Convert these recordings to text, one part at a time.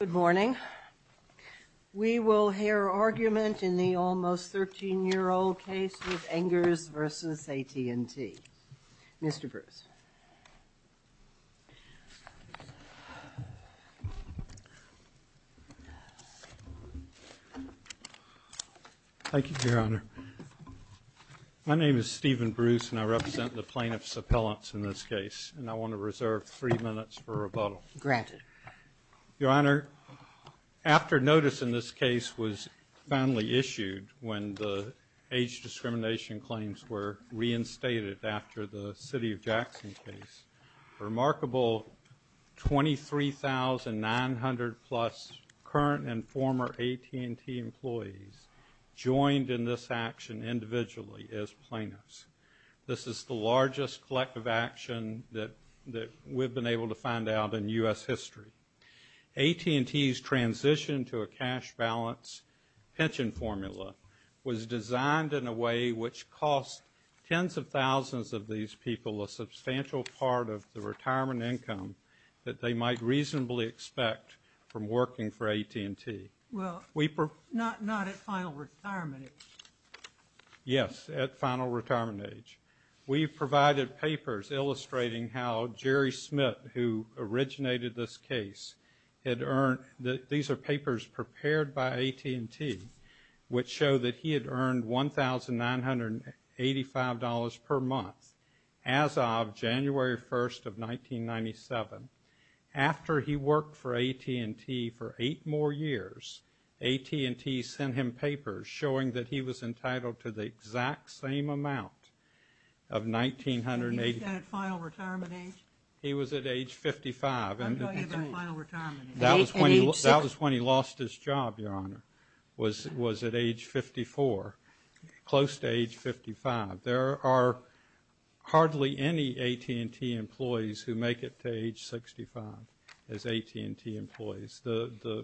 Good morning. We will hear argument in the almost 13-year-old case with Engers versus AT&T. Mr. Bruce. Thank you, Your Honor. My name is Stephen Bruce, and I represent the plaintiff's appellants in this case, and I want to reserve three minutes for rebuttal. Granted. Your Honor, after notice in this case was finally issued when the age discrimination claims were reinstated after the City of Jackson case, remarkable 23,900-plus current and former AT&T employees joined in this action individually as plaintiffs. This is the largest collective action that we've been able to find out in U.S. history. AT&T's transition to a cash balance pension formula was designed in a way which cost tens of thousands of these people a substantial part of the retirement income that they might reasonably expect from working for AT&T. Well, not at final retirement age. Yes, at final retirement age. We've provided papers illustrating how Jerry Smith, who originated this case, had earned, these are papers prepared by AT&T, which show that he had earned $1,985 per month as of January 1st of 1997. After he worked for AT&T for eight more years, AT&T sent him papers showing that he was entitled to the exact same amount of $1,985. You said at final retirement age? He was at age 55. I'm talking about final retirement age. That was when he lost his job, Your Honor, was at age 54, close to age 55. There are hardly any AT&T employees who make it to age 65 as AT&T employees.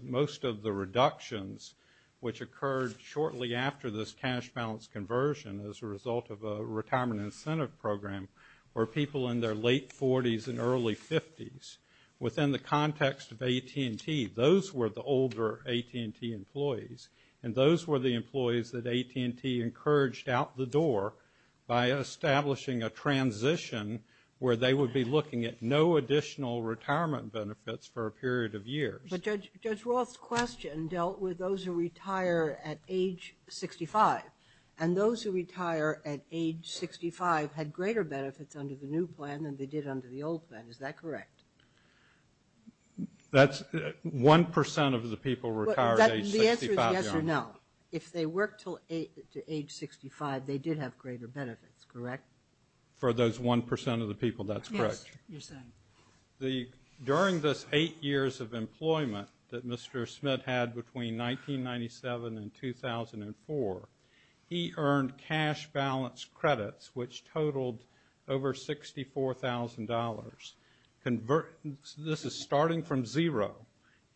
Most of the reductions which occurred shortly after this cash balance conversion as a result of a retirement incentive program were people in their late 40s and early 50s. Within the context of AT&T, those were the older AT&T employees, and those were the employees that AT&T encouraged out the door by establishing a transition where they would be looking at no additional retirement benefits for a period of years. But Judge Roth's question dealt with those who retire at age 65, and those who retire at age 65 had greater benefits under the new plan than they did under the old plan. Is that correct? That's 1% of the people who retire at age 65, Your Honor. The answer is yes or no. If they worked to age 65, they did have greater benefits, correct? For those 1% of the people, that's correct. Yes, you're saying. During this eight years of employment that Mr. Smith had between 1997 and 2004, he earned cash balance credits which totaled over $64,000. This is starting from zero.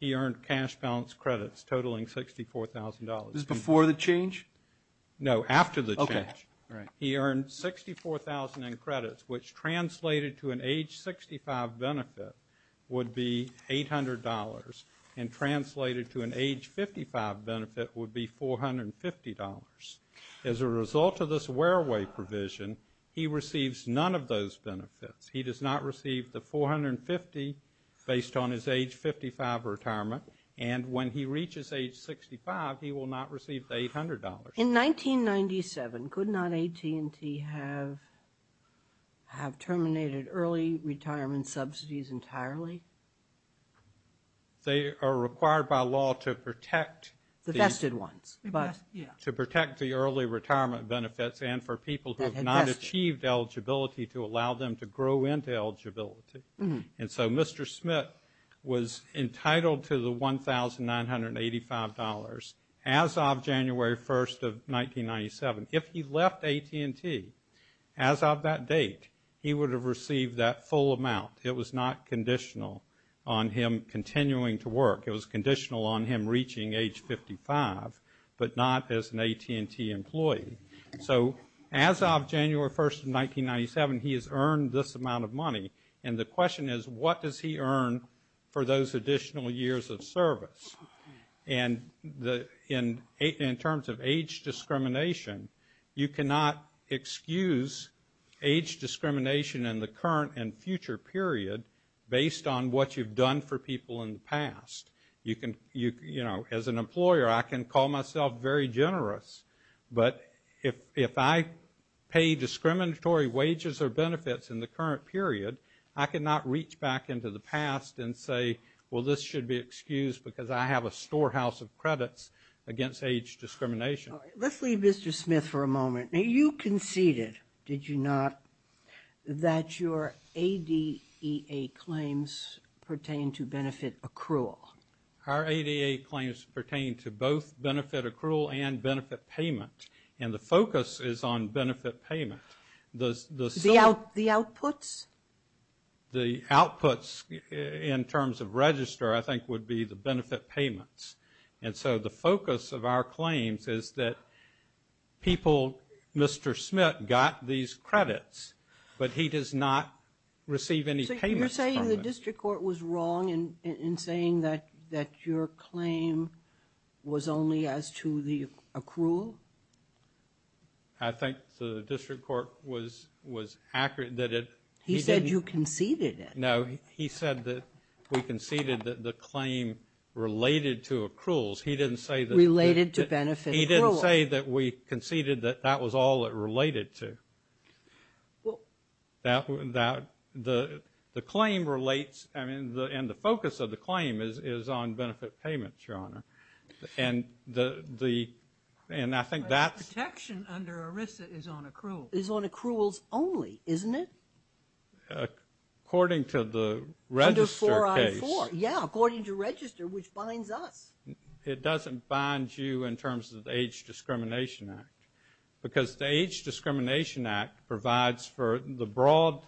He earned cash balance credits totaling $64,000. This is before the change? No, after the change. He earned $64,000 in credits, which translated to an age 65 benefit would be $800, and translated to an age 55 benefit would be $450. As a result of this wear-away provision, he receives none of those benefits. He does not receive the $450 based on his age 55 retirement, and when he reaches age 65, he will not receive the $800. In 1997, could not AT&T have terminated early retirement subsidies entirely? They are required by law to protect. The vested ones. To protect the early retirement benefits and for people who have not achieved eligibility to allow them to grow into eligibility. And so Mr. Smith was entitled to the $1,985 as of January 1st of 1997. If he left AT&T as of that date, he would have received that full amount. It was not conditional on him continuing to work. It was conditional on him reaching age 55, but not as an AT&T employee. So as of January 1st of 1997, he has earned this amount of money. And the question is, what does he earn for those additional years of service? And in terms of age discrimination, you cannot excuse age discrimination in the current and future period based on what you've done for people in the past. You can, you know, as an employer, I can call myself very generous, but if I pay discriminatory wages or benefits in the current period, I cannot reach back into the past and say, well, this should be excused because I have a storehouse of credits against age discrimination. Let's leave Mr. Smith for a moment. Now, you conceded, did you not, that your ADEA claims pertain to benefit accrual? Our ADEA claims pertain to both benefit accrual and benefit payment. And the focus is on benefit payment. The outputs? The outputs in terms of register, I think, would be the benefit payments. And so the focus of our claims is that people, Mr. Smith got these credits, but he does not receive any payments. You're saying the district court was wrong in saying that your claim was only as to the accrual? I think the district court was accurate that it... He said you conceded it. No, he said that we conceded that the claim related to accruals. He didn't say that... Related to benefit accruals. He didn't say that we conceded that that was all it related to. Well... That the claim relates... I mean, and the focus of the claim is on benefit payments, Your Honor. And the... And I think that's... Protection under ERISA is on accruals. Is on accruals only, isn't it? According to the register case. Yeah, according to register, which binds us. It doesn't bind you in terms of the Age Discrimination Act. Because the Age Discrimination Act provides for the broad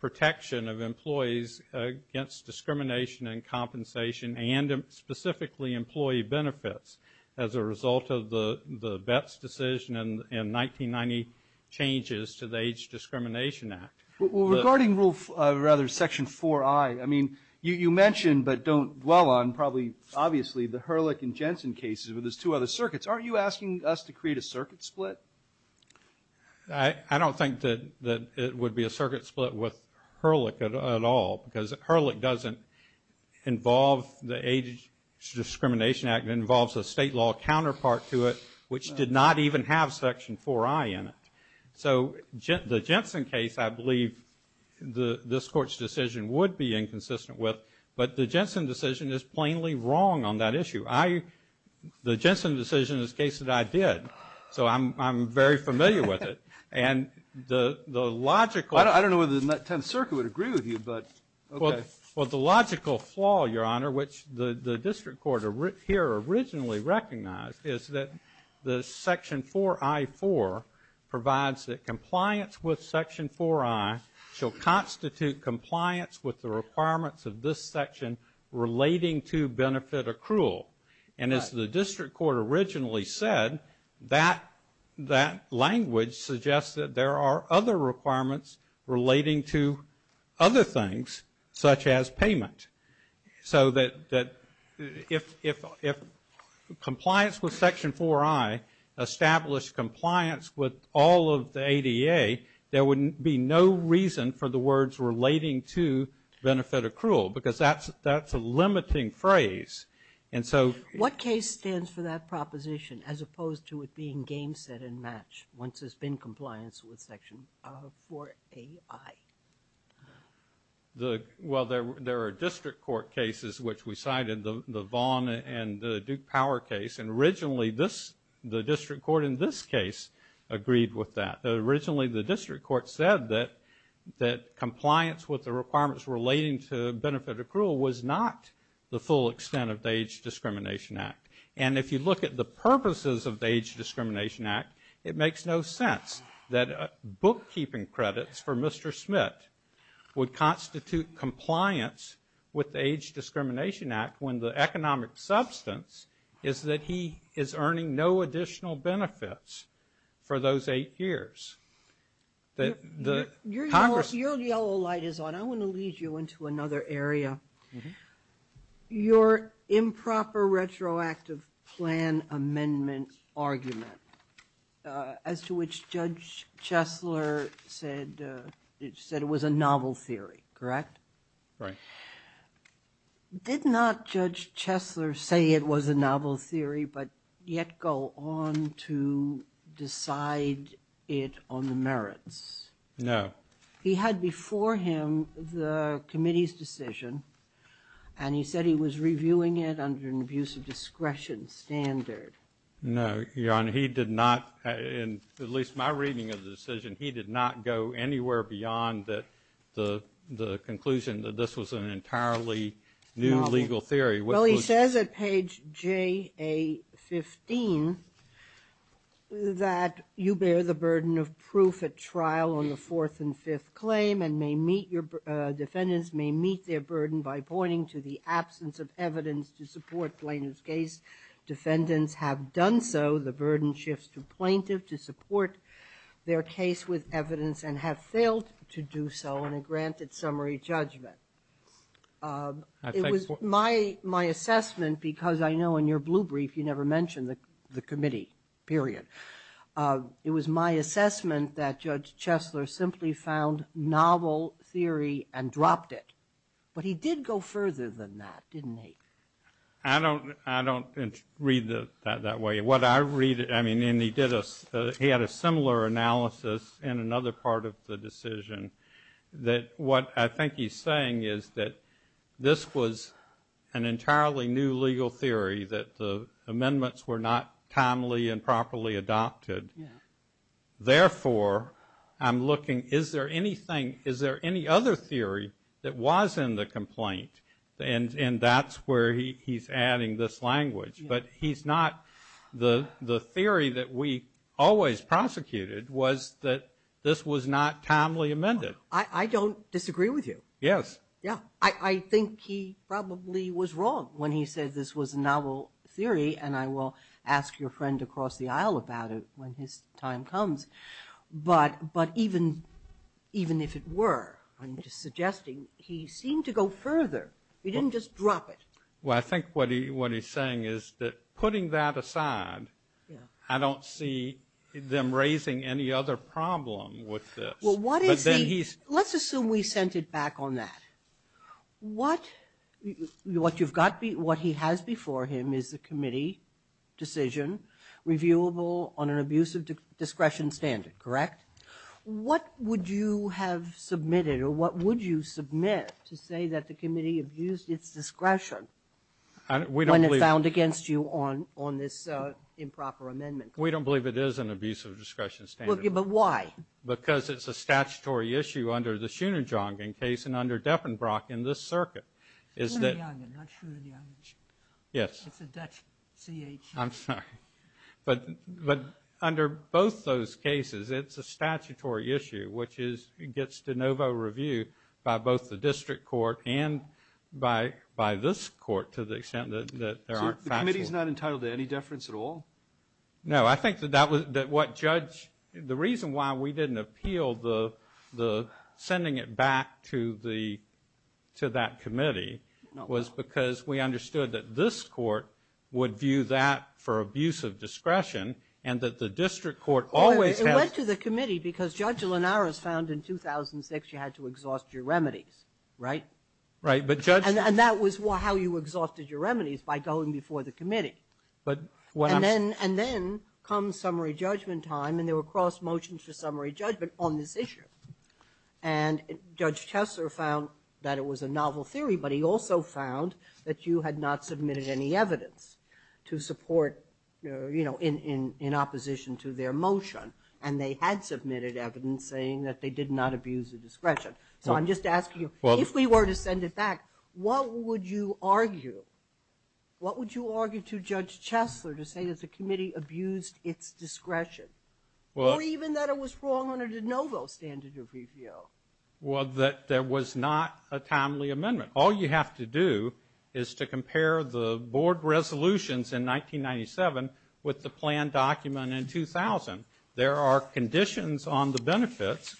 protection of employees against discrimination and compensation, and specifically employee benefits, as a result of the Betts decision in 1990 changes to the Age Discrimination Act. Regarding Rule... Rather, Section 4I, I mean, you mentioned but don't dwell on probably, obviously, the Herlick and Jensen cases, but there's two other circuits. Aren't you asking us to create a circuit split? I don't think that it would be a circuit split with Herlick at all. Because Herlick doesn't involve the Age Discrimination Act. It involves a state law counterpart to it, which did not even have Section 4I in it. So the Jensen case, I believe, this Court's decision would be inconsistent with. But the Jensen decision is plainly wrong on that issue. The Jensen decision is a case that I did. So I'm very familiar with it. And the logical... I don't know whether the 10th Circuit would agree with you, but okay. Well, the logical flaw, Your Honor, which the District Court here originally recognized, is that the Section 4I-4 provides that compliance with Section 4I shall constitute compliance with the requirements of this section relating to benefit accrual. And as the District Court originally said, that language suggests that there are other requirements relating to other things, such as payment. So that if compliance with Section 4I established compliance with all of the ADA, there would be no reason for the words relating to benefit accrual, because that's a limiting phrase. And so... What case stands for that proposition as opposed to it being game, set, and match once there's been compliance with Section 4A-I? Well, there are District Court cases which we cited, the Vaughn and the Duke Power case. And originally, the District Court in this case agreed with that. Originally, the District Court said that compliance with the requirements relating to benefit accrual was not the full extent of the Age Discrimination Act. And if you look at the purposes of the Age Discrimination Act, it makes no sense that bookkeeping credits for Mr. Smith would constitute compliance with the Age Discrimination Act when the economic substance is that he is earning no additional benefits for those eight years. Your yellow light is on. I want to lead you into another area. Your improper retroactive plan amendment argument, as to which Judge Chesler said it was a novel theory, correct? Right. Did not Judge Chesler say it was a novel theory, but yet go on to decide it on the merits? No. He had before him the committee's decision, and he said he was reviewing it under an abuse of discretion standard. No, Your Honor. He did not, in at least my reading of the decision, he did not go anywhere beyond the conclusion that this was an entirely new legal theory. Well, he says at page JA15 that you bear the burden of proof at trial on the fourth and fifth claim and may meet, your defendants may meet their burden by pointing to the absence of evidence to support plaintiff's case. Defendants have done so, the burden shifts to plaintiff to support their case with evidence and have failed to do so in a granted summary judgment. It was my assessment, because I know in your blue brief, you never mentioned the committee, period. It was my assessment that Judge Chesler simply found novel theory and dropped it. But he did go further than that, didn't he? I don't read that that way. What I read, I mean, and he did, he had a similar analysis in another part of the decision that what I think he's saying is that this was an entirely new legal theory that the amendments were not timely and properly adopted. Therefore, I'm looking, is there anything, is there any other theory that was in the he's adding this language, but he's not, the theory that we always prosecuted was that this was not timely amended. I don't disagree with you. Yes. Yeah, I think he probably was wrong when he said this was a novel theory and I will ask your friend across the aisle about it when his time comes. But even if it were, I'm just suggesting he seemed to go further. He didn't just drop it. I think what he's saying is that putting that aside, I don't see them raising any other problem with this. Well, what is he, let's assume we sent it back on that. What you've got, what he has before him is the committee decision reviewable on an abusive discretion standard, correct? What would you have submitted or what would you submit to say that the committee abused its discretion? We don't believe. When it's found against you on this improper amendment. We don't believe it is an abusive discretion standard. But why? Because it's a statutory issue under the Schooner-Jongen case and under Deppenbrock in this circuit. Schooner-Jongen, not Schooner-Jongen. Yes. It's a Dutch C-H-E. I'm sorry. But under both those cases, it's a statutory issue, which gets de novo review by both the The committee is not entitled to any deference at all? No. I think that what judge, the reason why we didn't appeal the sending it back to that committee was because we understood that this court would view that for abusive discretion and that the district court always has. It went to the committee because Judge Linares found in 2006 you had to exhaust your remedies, right? Right. And that was how you exhausted your remedies, by going before the committee. And then comes summary judgment time, and there were cross-motions for summary judgment on this issue. And Judge Tessler found that it was a novel theory, but he also found that you had not submitted any evidence to support, you know, in opposition to their motion. And they had submitted evidence saying that they did not abuse the discretion. So I'm just asking you, if we were to send it back, what would you argue? What would you argue to Judge Tessler to say that the committee abused its discretion? Or even that it was wrong on a de novo standard of review? Well, that there was not a timely amendment. All you have to do is to compare the board resolutions in 1997 with the plan document in 2000. There are conditions on the benefits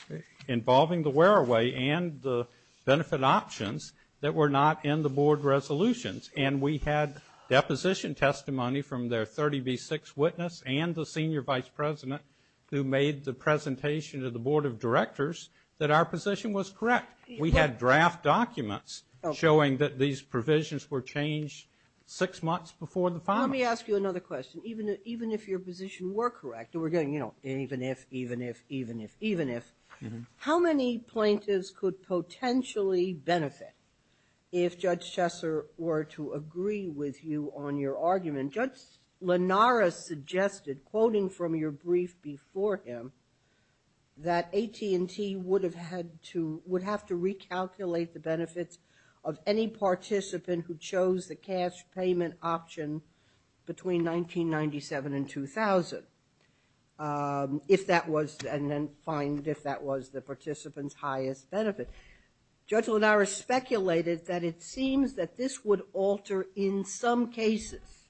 involving the wear-away and the benefit options that were not in the board resolutions. And we had deposition testimony from their 30B6 witness and the senior vice president who made the presentation to the board of directors that our position was correct. We had draft documents showing that these provisions were changed six months before the filing. Let me ask you another question. Even if your position were correct, we're getting, you know, even if, even if, even if, even if, how many plaintiffs could potentially benefit if Judge Tessler were to agree with you on your argument? Judge Lenara suggested, quoting from your brief before him, that AT&T would have to recalculate the benefits of any participant who chose the cash payment option between 1997 and 2000 if that was, and then find if that was the participant's highest benefit. Judge Lenara speculated that it seems that this would alter in some cases,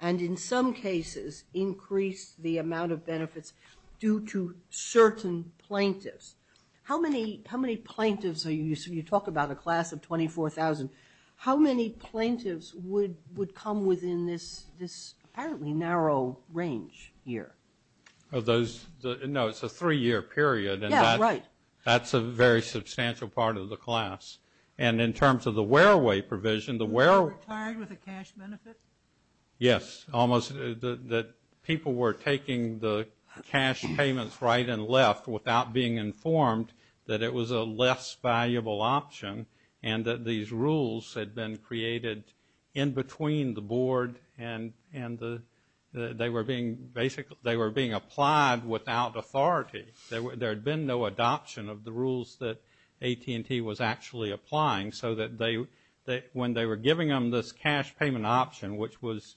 and in some cases increase the amount of benefits due to certain plaintiffs. How many, how many plaintiffs are you, you talk about a class of 24,000, how many plaintiffs would, would come within this, this apparently narrow range here? Of those, no, it's a three-year period. Yeah, right. That's a very substantial part of the class. And in terms of the wear-away provision, the wear-away- Were they retired with a cash benefit? Yes, almost. That people were taking the cash payments right and left without being informed that it was a less valuable option and that these rules had been created in between the board and the, they were being basically, they were being applied without authority. There had been no adoption of the rules that AT&T was actually applying so that they, when they were giving them this cash payment option, which was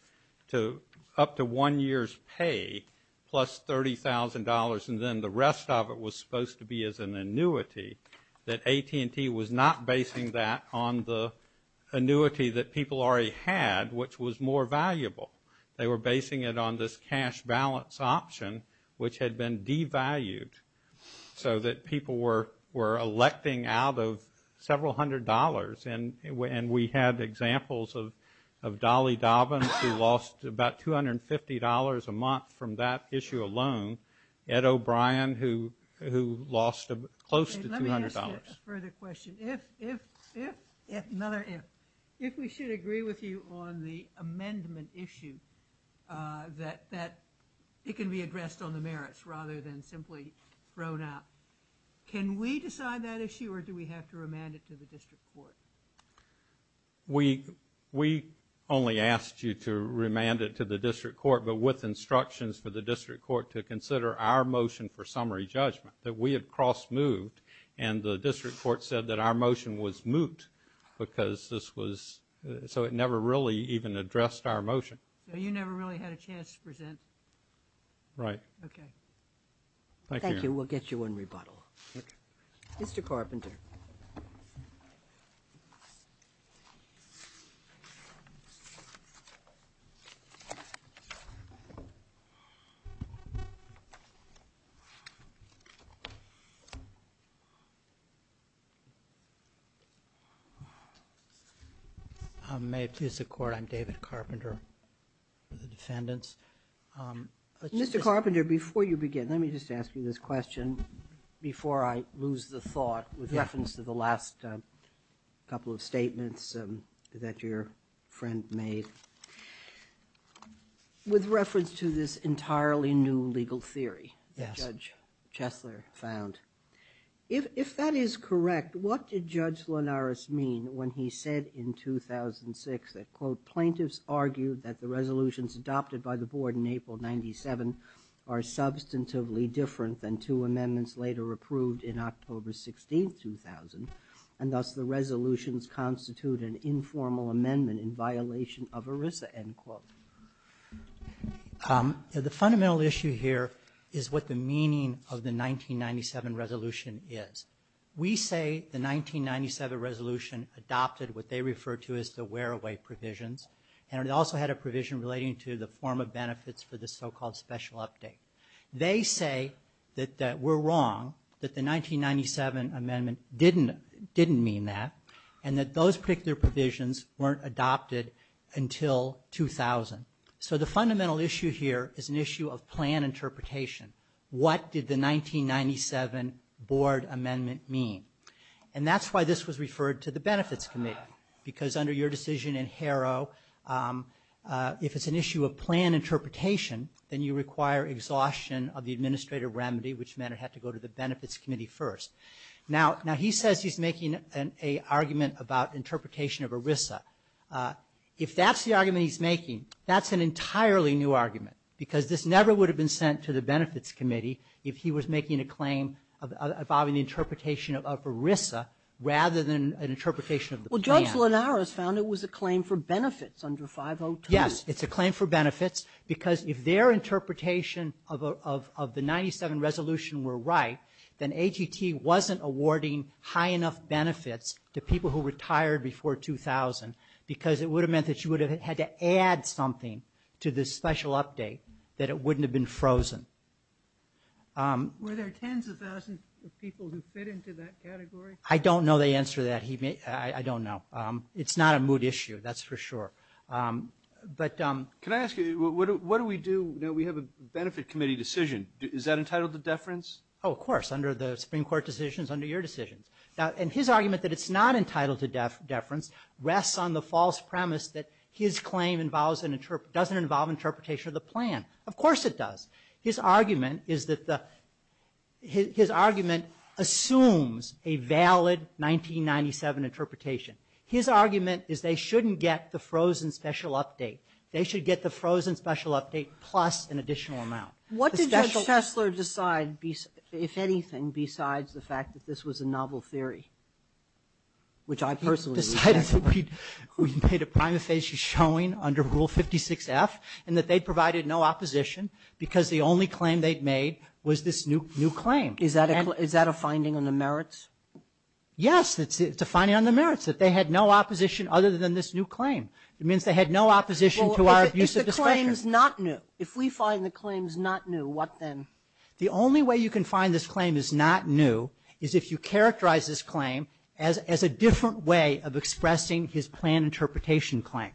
to, up to one year's pay plus $30,000 and then the rest of it was supposed to be as an annuity, that AT&T was not basing that on the annuity that people already had, which was more valuable. They were basing it on this cash balance option, which had been devalued so that people were, were electing out of several hundred dollars. And we had examples of Dolly Dobbins, who lost about $250 a month from that issue alone. Ed O'Brien, who lost close to $200. Let me ask you a further question. If, if, if, if, another if, if we should agree with you on the amendment issue, that it can be addressed on the merits rather than simply thrown out, can we decide that issue or do we have to remand it to the district court? We, we only asked you to remand it to the district court, but with instructions for the district court to consider our motion for summary judgment that we had cross moved and the district court said that our motion was moot because this was, so it never really even addressed our motion. So you never really had a chance to present? Right. Okay. Thank you. We'll get you in rebuttal. Mr. Carpenter. I'm David Carpenter for the defendants. Mr. Carpenter, before you begin, let me just ask you this question before I lose the thought with reference to the last couple of statements that your friend made, with reference to this entirely new legal theory that Judge Chesler found. If that is correct, what did Judge Linares mean when he said in 2006 that quote, plaintiffs argued that the resolutions adopted by the board in April 97 are substantively different than two amendments later approved in October 16, 2000. And thus the resolutions constitute an informal amendment in violation of ERISA end quote. The fundamental issue here is what the meaning of the 1997 resolution is. We say the 1997 resolution adopted what they refer to as the wear away provisions. And it also had a provision relating to the form of benefits for the so-called special update. They say that we're wrong, that the 1997 amendment didn't mean that, and that those particular provisions weren't adopted until 2000. So the fundamental issue here is an issue of plan interpretation. What did the 1997 board amendment mean? And that's why this was referred to the benefits committee, because under your decision in Harrow, if it's an issue of plan interpretation, then you require exhaustion of the administrative remedy, which meant it had to go to the benefits committee first. Now he says he's making an argument about interpretation of ERISA. If that's the argument he's making, that's an entirely new argument, because this never would have been sent to the benefits committee if he was making a claim involving the interpretation of ERISA, rather than an interpretation of the plan. Judge Linares found it was a claim for benefits under 502. Yes, it's a claim for benefits, because if their interpretation of the 97 resolution were right, then AGT wasn't awarding high enough benefits to people who retired before 2000, because it would have meant that you would have had to add something to this special update that it wouldn't have been frozen. Were there tens of thousands of people who fit into that category? I don't know the answer to that. I don't know. It's not a moot issue, that's for sure. Can I ask you, what do we do? We have a benefit committee decision. Is that entitled to deference? Oh, of course. Under the Supreme Court decisions, under your decisions. And his argument that it's not entitled to deference rests on the false premise that his claim doesn't involve interpretation of the plan. Of course it does. His argument is that the, his argument assumes a valid 1997 interpretation. His argument is they shouldn't get the frozen special update. They should get the frozen special update plus an additional amount. What did Judge Fessler decide, if anything, besides the fact that this was a novel theory? Which I personally- Decided that we made a prima facie showing under Rule 56-F, and that they provided no opposition, because the only claim they'd made was this new claim. Is that a finding on the merits? Yes, it's a finding on the merits, that they had no opposition other than this new claim. It means they had no opposition to our abuse of discretion. Well, if the claim's not new, if we find the claim's not new, what then? The only way you can find this claim is not new is if you characterize this claim as a different way of expressing his plan interpretation claim.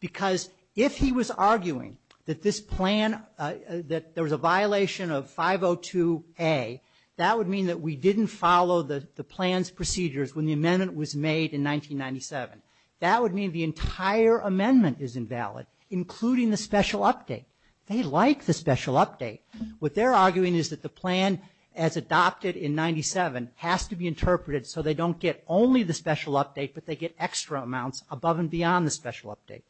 Because if he was arguing that this plan, that there was a violation of 502-A, that would mean that we didn't follow the plan's procedures when the amendment was made in 1997. That would mean the entire amendment is invalid, including the special update. They like the special update. What they're arguing is that the plan, as adopted in 97, has to be interpreted so they don't get only the special update, but they get extra amounts above and beyond the special update.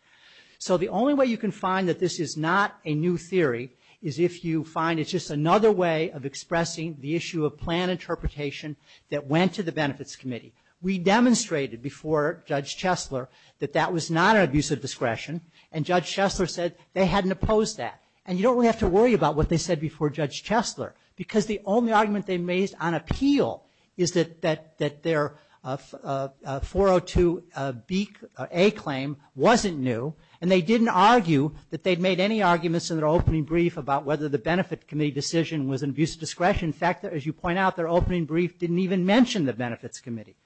So the only way you can find that this is not a new theory is if you find it's just another way of expressing the issue of plan interpretation that went to the Benefits Committee. We demonstrated before Judge Chesler that that was not an abuse of discretion, and Judge Chesler said they hadn't opposed that. And you don't have to worry about what they said before Judge Chesler, because the only argument they've made on appeal is that their 402-A claim wasn't new, and they didn't argue that they'd made any arguments in their opening brief about whether the Benefit Committee decision was an abuse of discretion. In fact, as you point out, their opening brief didn't even mention the Benefits Committee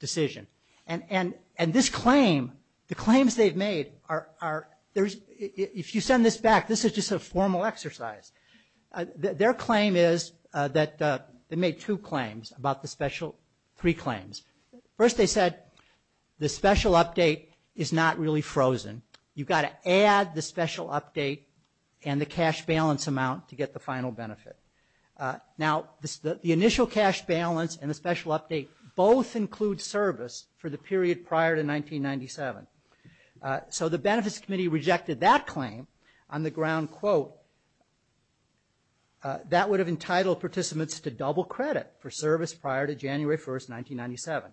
decision. And this claim, the claims they've made are, if you send this back, this is just a formal exercise. Their claim is that they made two claims about the special, three claims. First, they said the special update is not really frozen. You've got to add the special update and the cash balance amount to get the final benefit. Now, the initial cash balance and the special update both include service for the period prior to 1997. So the Benefits Committee rejected that claim on the ground, quote, that would have entitled participants to double credit for service prior to January 1st, 1997.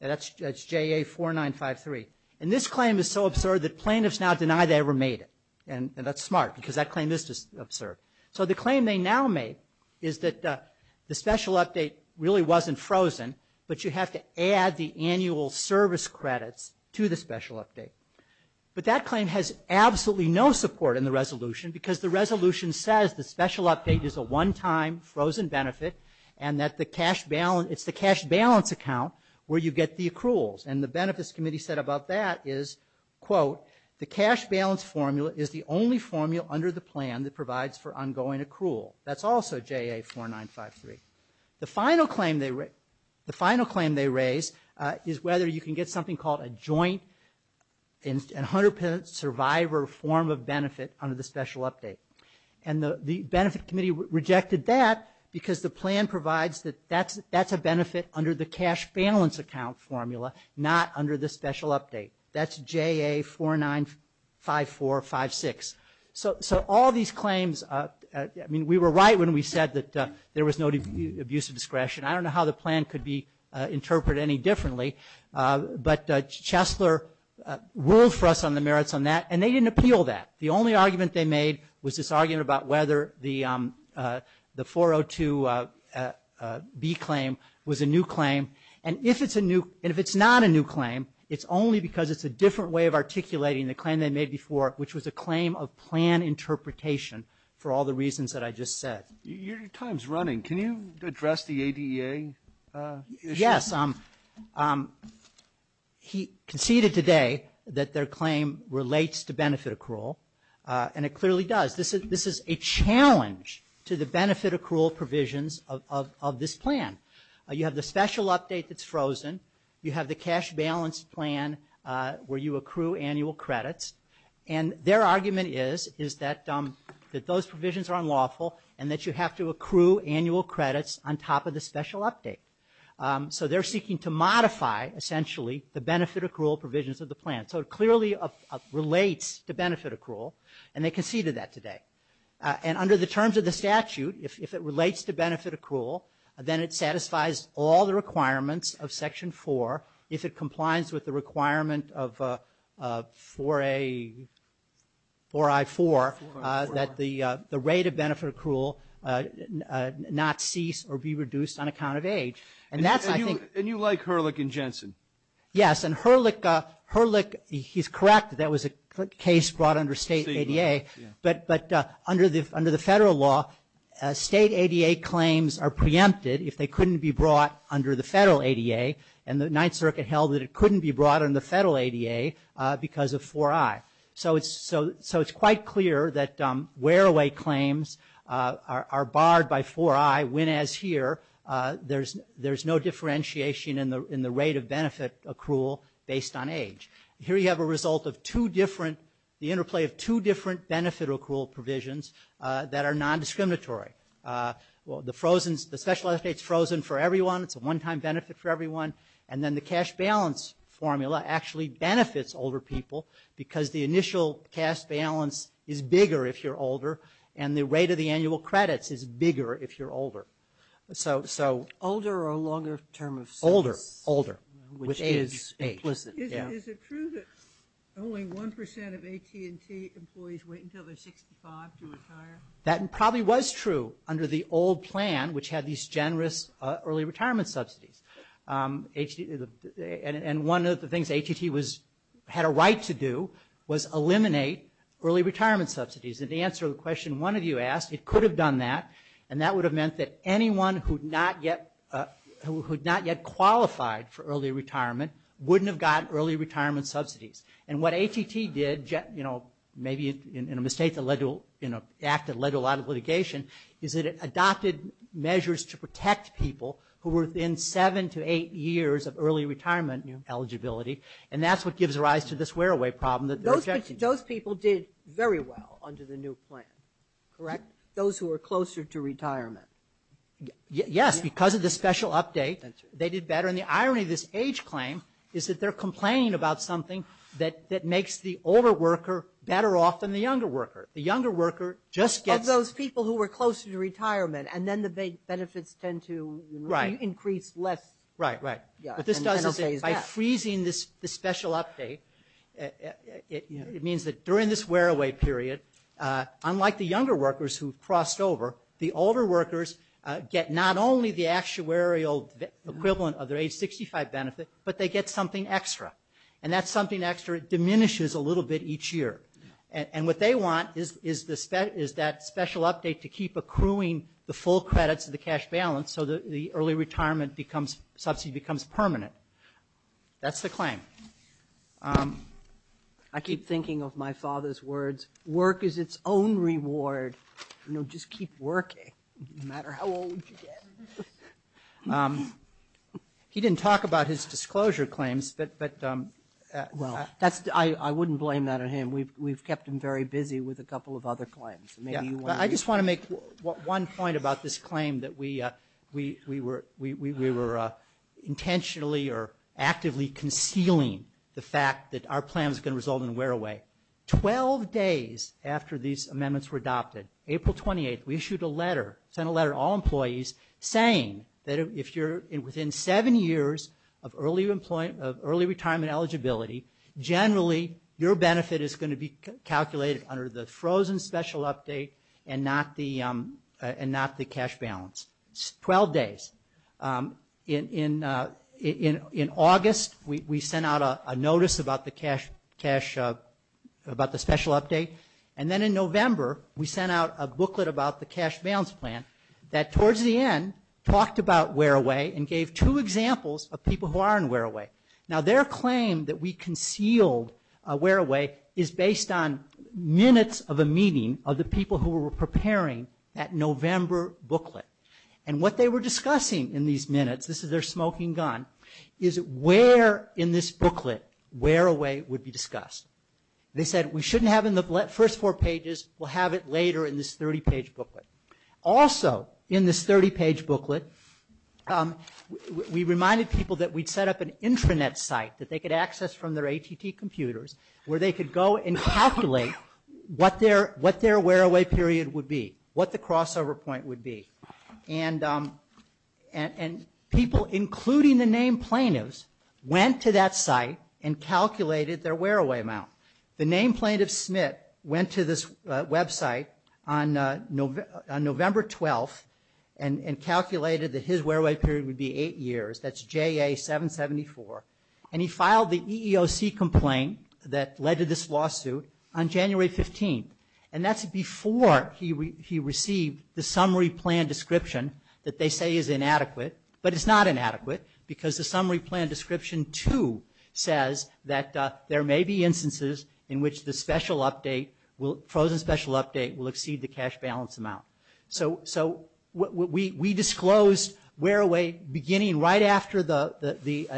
And that's JA-4953. And this claim is so absurd that plaintiffs now deny they ever made it. And that's smart, because that claim is just absurd. So the claim they now make is that the special update really wasn't frozen, but you have to add the annual service credits to the special update. But that claim has absolutely no support in the resolution, because the resolution says the special update is a one-time frozen benefit and that the cash balance, it's the cash balance account where you get the accruals. And the Benefits Committee said about that is, quote, the cash balance formula is the only formula under the plan that provides for ongoing accrual. That's also JA-4953. The final claim they raised is whether you can get something called a joint and 100% survivor form of benefit under the special update. And the Benefits Committee rejected that, because the plan provides that that's a benefit under the cash balance account formula, not under the special update. That's JA-495456. So all these claims, I mean, we were right when we said that there was no abuse of discretion. I don't know how the plan could be interpreted any differently, but Chesler ruled for us on the merits on that, and they didn't appeal that. The only argument they made was this argument about whether the 402B claim was a new claim. And if it's a new, and if it's not a new claim, it's only because it's a different way of articulating the claim they made before, which was a claim of plan interpretation for all the reasons that I just said. Your time's running. Can you address the ADEA issue? Yes. He conceded today that their claim relates to benefit accrual, and it clearly does. This is a challenge to the benefit accrual provisions of this plan. You have the special update that's frozen. You have the cash balance plan where you accrue annual credits. And their argument is that those provisions are unlawful and that you have to accrue annual credits on top of the special update. So they're seeking to modify, essentially, the benefit accrual provisions of the plan. So it clearly relates to benefit accrual, and they conceded that today. And under the terms of the statute, if it relates to benefit accrual, then it satisfies all the requirements of Section 4, if it complies with the requirement of 4A, 4I4, that the rate of benefit accrual not cease or be reduced on account of age. And that's, I think- And you like Herlick and Jensen. Yes. And Herlick, he's correct that that was a case brought under state ADEA. But under the federal law, state ADEA claims are preempted if they couldn't be brought under the federal ADEA. And the Ninth Circuit held that it couldn't be brought in the federal ADEA because of 4I. So it's quite clear that wear away claims are barred by 4I, when, as here, there's no differentiation in the rate of benefit accrual based on age. Here you have a result of two different- the interplay of two different benefit accrual provisions that are non-discriminatory. Well, the frozen- the special estate's frozen for everyone. It's a one-time benefit for everyone. And then the cash balance formula actually benefits older people because the initial cash balance is bigger if you're older. And the rate of the annual credits is bigger if you're older. So- Older or longer term of service? Older. Older. Which is implicit. Is it true that only 1% of AT&T employees wait until they're 65 to retire? That probably was true under the old plan, which had these generous early retirement subsidies. And one of the things AT&T had a right to do was eliminate early retirement subsidies. And the answer to the question one of you asked, it could have done that. And that would have meant that anyone who'd not yet qualified for early retirement wouldn't have gotten early retirement subsidies. And what AT&T did, you know, maybe in a mistake that led to, in an act that led to a lot of litigation, is that it adopted measures to protect people who were within seven to eight years of early retirement eligibility. And that's what gives rise to this wear-away problem that they're objecting to. Those people did very well under the new plan, correct? Those who were closer to retirement. Yes, because of the special update, they did better. And the irony of this age claim is that they're complaining about something that makes the older worker better off than the younger worker. The younger worker just gets... Of those people who were closer to retirement. And then the benefits tend to increase less. Right, right. But this does it by freezing this special update. It means that during this wear-away period, unlike the younger workers who've crossed over, the older workers get not only the actuarial equivalent of their age 65 benefit, but they get something extra. And that something extra diminishes a little bit each year. And what they want is that special update to keep accruing the full credits of the cash balance so the early retirement subsidy becomes permanent. That's the claim. I keep thinking of my father's words, work is its own reward. Just keep working, no matter how old you get. He didn't talk about his disclosure claims. I wouldn't blame that on him. We've kept him very busy with a couple of other claims. I just want to make one point about this claim that we were intentionally or actively concealing the fact that our plan was going to result in wear-away. Twelve days after these amendments were adopted, April 28th, we issued a letter, sent a letter to all employees saying that if you're within seven years of early retirement eligibility, generally your benefit is going to be calculated under the frozen special update and not the cash balance. Twelve days. In August, we sent out a notice about the special update. And then in November, we sent out a booklet about the cash balance plan that towards the end talked about wear-away and gave two examples of people who are in wear-away. Now their claim that we concealed wear-away is based on minutes of a meeting of the people who were preparing that November booklet. And what they were discussing in these minutes, this is their smoking gun, is where in this booklet wear-away would be discussed. They said we shouldn't have it in the first four pages. We'll have it later in this 30-page booklet. Also in this 30-page booklet, we reminded people that we'd set up an intranet site that they could access from their ATT computers where they could go and calculate what their wear-away period would be, what the crossover point would be. And people, including the named plaintiffs, went to that site and calculated their wear-away amount. The named plaintiff, Smith, went to this website on November 12th and calculated that his wear-away period would be eight years. That's JA-774. And he filed the EEOC complaint that led to this lawsuit on January 15th. And that's before he received the summary plan description that they say is inadequate. But it's not inadequate because the summary plan description too says that there may be instances in which the frozen special update will exceed the cash balance amount. So we disclosed wear-away beginning right after the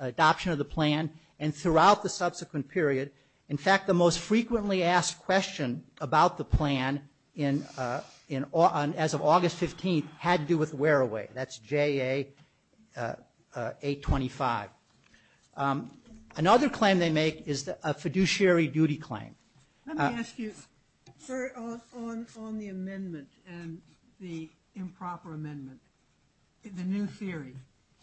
adoption of the plan and throughout the subsequent period. In fact, the most frequently asked question about the plan as of August 15th had to do with wear-away. That's JA-825. Another claim they make is a fiduciary duty claim. Let me ask you, sir, on the amendment and the improper amendment, the new theory.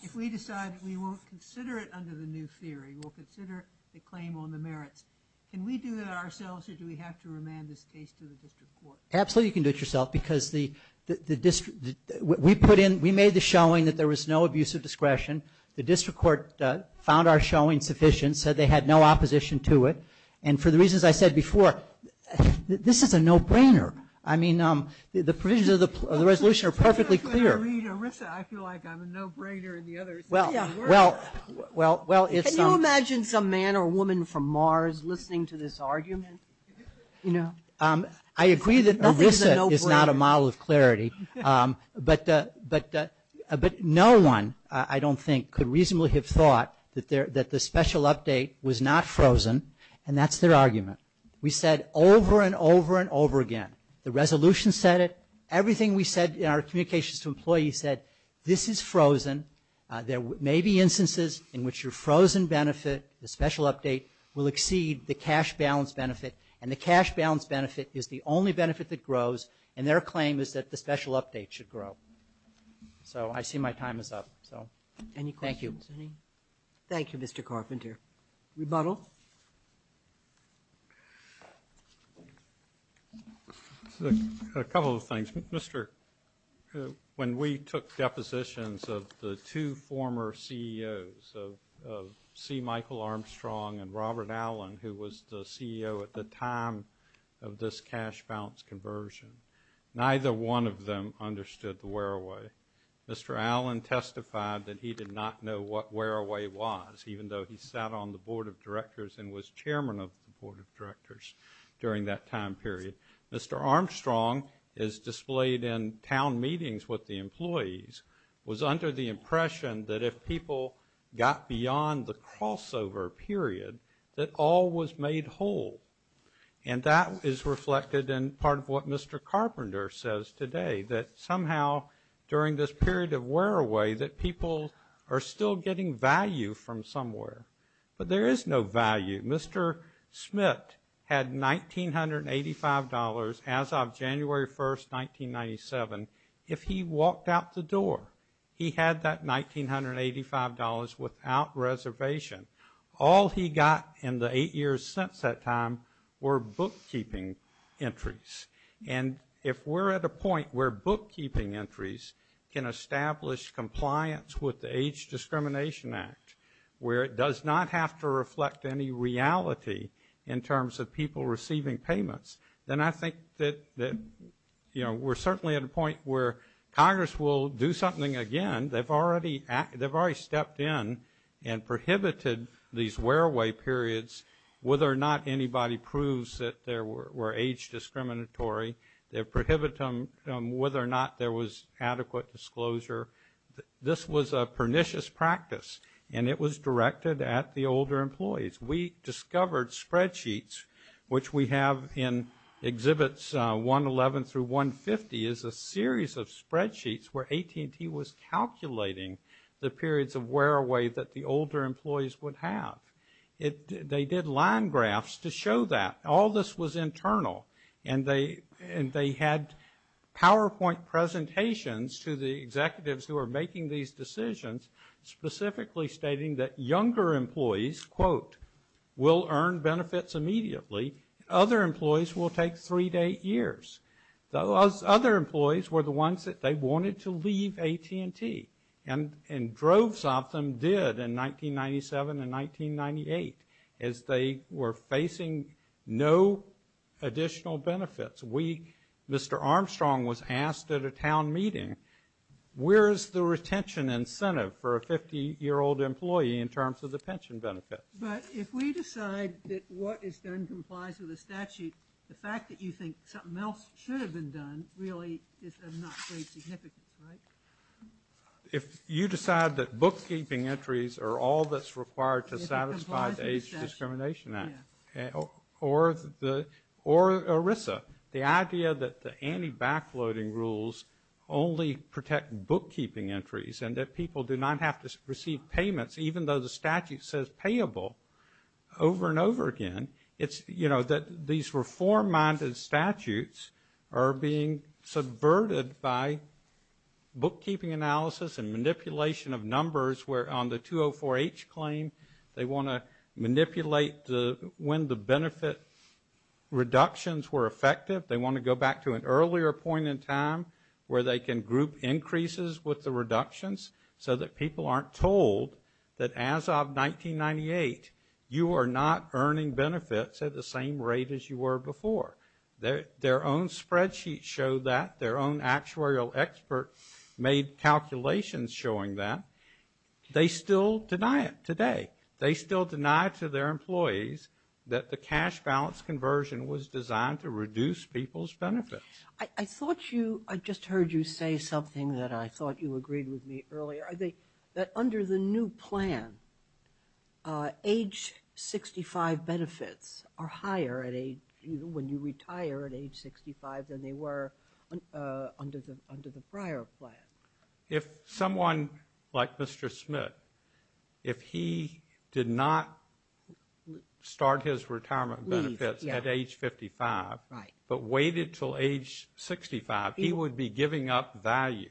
If we decide we won't consider it under the new theory, we'll consider the claim on the merits. Can we do that ourselves or do we have to remand this case to the district court? Absolutely, you can do it yourself because we made the showing that there was no abuse of discretion. The district court found our showing sufficient, said they had no opposition to it. And for the reasons I said before, this is a no-brainer. I mean, the provisions of the resolution are perfectly clear. When I read ERISA, I feel like I'm a no-brainer and the others are worse. Can you imagine some man or woman from Mars listening to this argument? I agree that ERISA is not a model of clarity, but no one, I don't think, could reasonably have thought that the special update was not frozen and that's their argument. We said over and over and over again, the resolution said it, everything we said in our communications to employees said, this is frozen, there may be instances in which your frozen benefit, the special update, will exceed the cash balance benefit and the cash balance benefit is the only benefit that grows and their claim is that the special update should grow. So I see my time is up. So, thank you. Thank you, Mr. Carpenter. Rebuttal? A couple of things. Mr., when we took depositions of the two former CEOs of C. Michael Armstrong and Robert Allen, who was the CEO at the time of this cash balance conversion, neither one of them understood the wear-away. Mr. Allen testified that he did not know what wear-away was, even though he sat on the Board of Directors and was chairman of the Board of Directors during that time period. Mr. Armstrong is displayed in town meetings with the employees, was under the impression that if people got beyond the crossover period, that all was made whole. And that is reflected in part of what Mr. Carpenter says today, that somehow during this period of wear-away that people are still getting value from somewhere. But there is no value. Mr. Smith had $1,985 as of January 1st, 1997. If he walked out the door, he had that $1,985 without reservation. All he got in the eight years since that time were bookkeeping entries. And if we're at a point where bookkeeping entries can establish compliance with the Age Discrimination Act, where it does not have to reflect any reality in terms of people receiving payments, then I think that, you know, we're certainly at a point where Congress will do something again. They've already stepped in and prohibited these wear-away periods whether or not anybody proves that they were age discriminatory. They prohibit them from whether or not there was adequate disclosure. This was a pernicious practice, and it was directed at the older employees. We discovered spreadsheets, which we have in Exhibits 111 through 150, is a series of spreadsheets where AT&T was calculating the periods of wear-away that the older employees would have. They did line graphs to show that. All this was internal. And they had PowerPoint presentations to the executives who were making these decisions, specifically stating that younger employees, quote, will earn benefits immediately. Other employees will take three-day years. Those other employees were the ones that they wanted to leave AT&T, and droves of them did in 1997 and 1998 as they were facing no additional benefits. We, Mr. Armstrong, was asked at a town meeting, where's the retention incentive for a 50-year-old employee in terms of the pension benefits? But if we decide that what is done complies with the statute, the fact that you think something else should have been done really is of not great significance, right? If you decide that bookkeeping entries are all that's required to satisfy the Age Discrimination Act or ERISA, the idea that the anti-backloading rules only protect bookkeeping entries and that people do not have to receive payments, even though the statute says payable, over and over again, it's, you know, that these reform-minded statutes are being subverted by bookkeeping analysis and manipulation of numbers where on the 204H claim, they want to manipulate when the benefit reductions were effective. They want to go back to an earlier point in time where they can group increases with the reductions so that people aren't told that as of 1998, you are not earning benefits at the same rate as you were before. Their own spreadsheets show that. Their own actuarial experts made calculations showing that. They still deny it today. They still deny to their employees that the cash balance conversion was designed to reduce people's benefits. I thought you, I just heard you say something that I thought you agreed with me earlier. That under the new plan, age 65 benefits are higher when you retire at age 65 than they were under the prior plan. If someone like Mr. Smith, if he did not start his retirement benefits at age 55 but waited till age 65, he would be giving up value.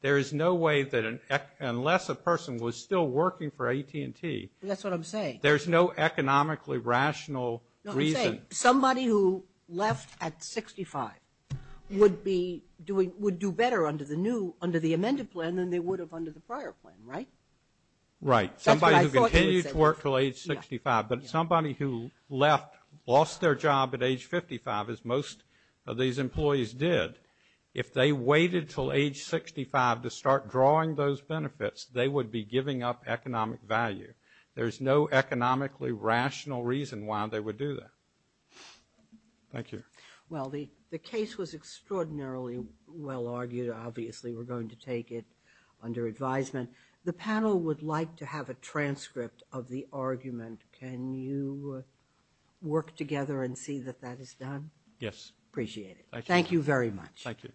There is no way that unless a person was still working for AT&T. That's what I'm saying. There's no economically rational reason. Somebody who left at 65 would be doing, would do better under the new, under the amended plan than they would have under the prior plan, right? Right. Somebody who continued to work till age 65 but somebody who left, lost their job at age 55 as most of these employees did. If they waited till age 65 to start drawing those benefits, they would be giving up economic value. There's no economically rational reason why they would do that. Thank you. Well, the case was extraordinarily well argued. Obviously, we're going to take it under advisement. The panel would like to have a transcript of the argument. Can you work together and see that that is done? Yes. Appreciate it. Thank you very much. Thank you.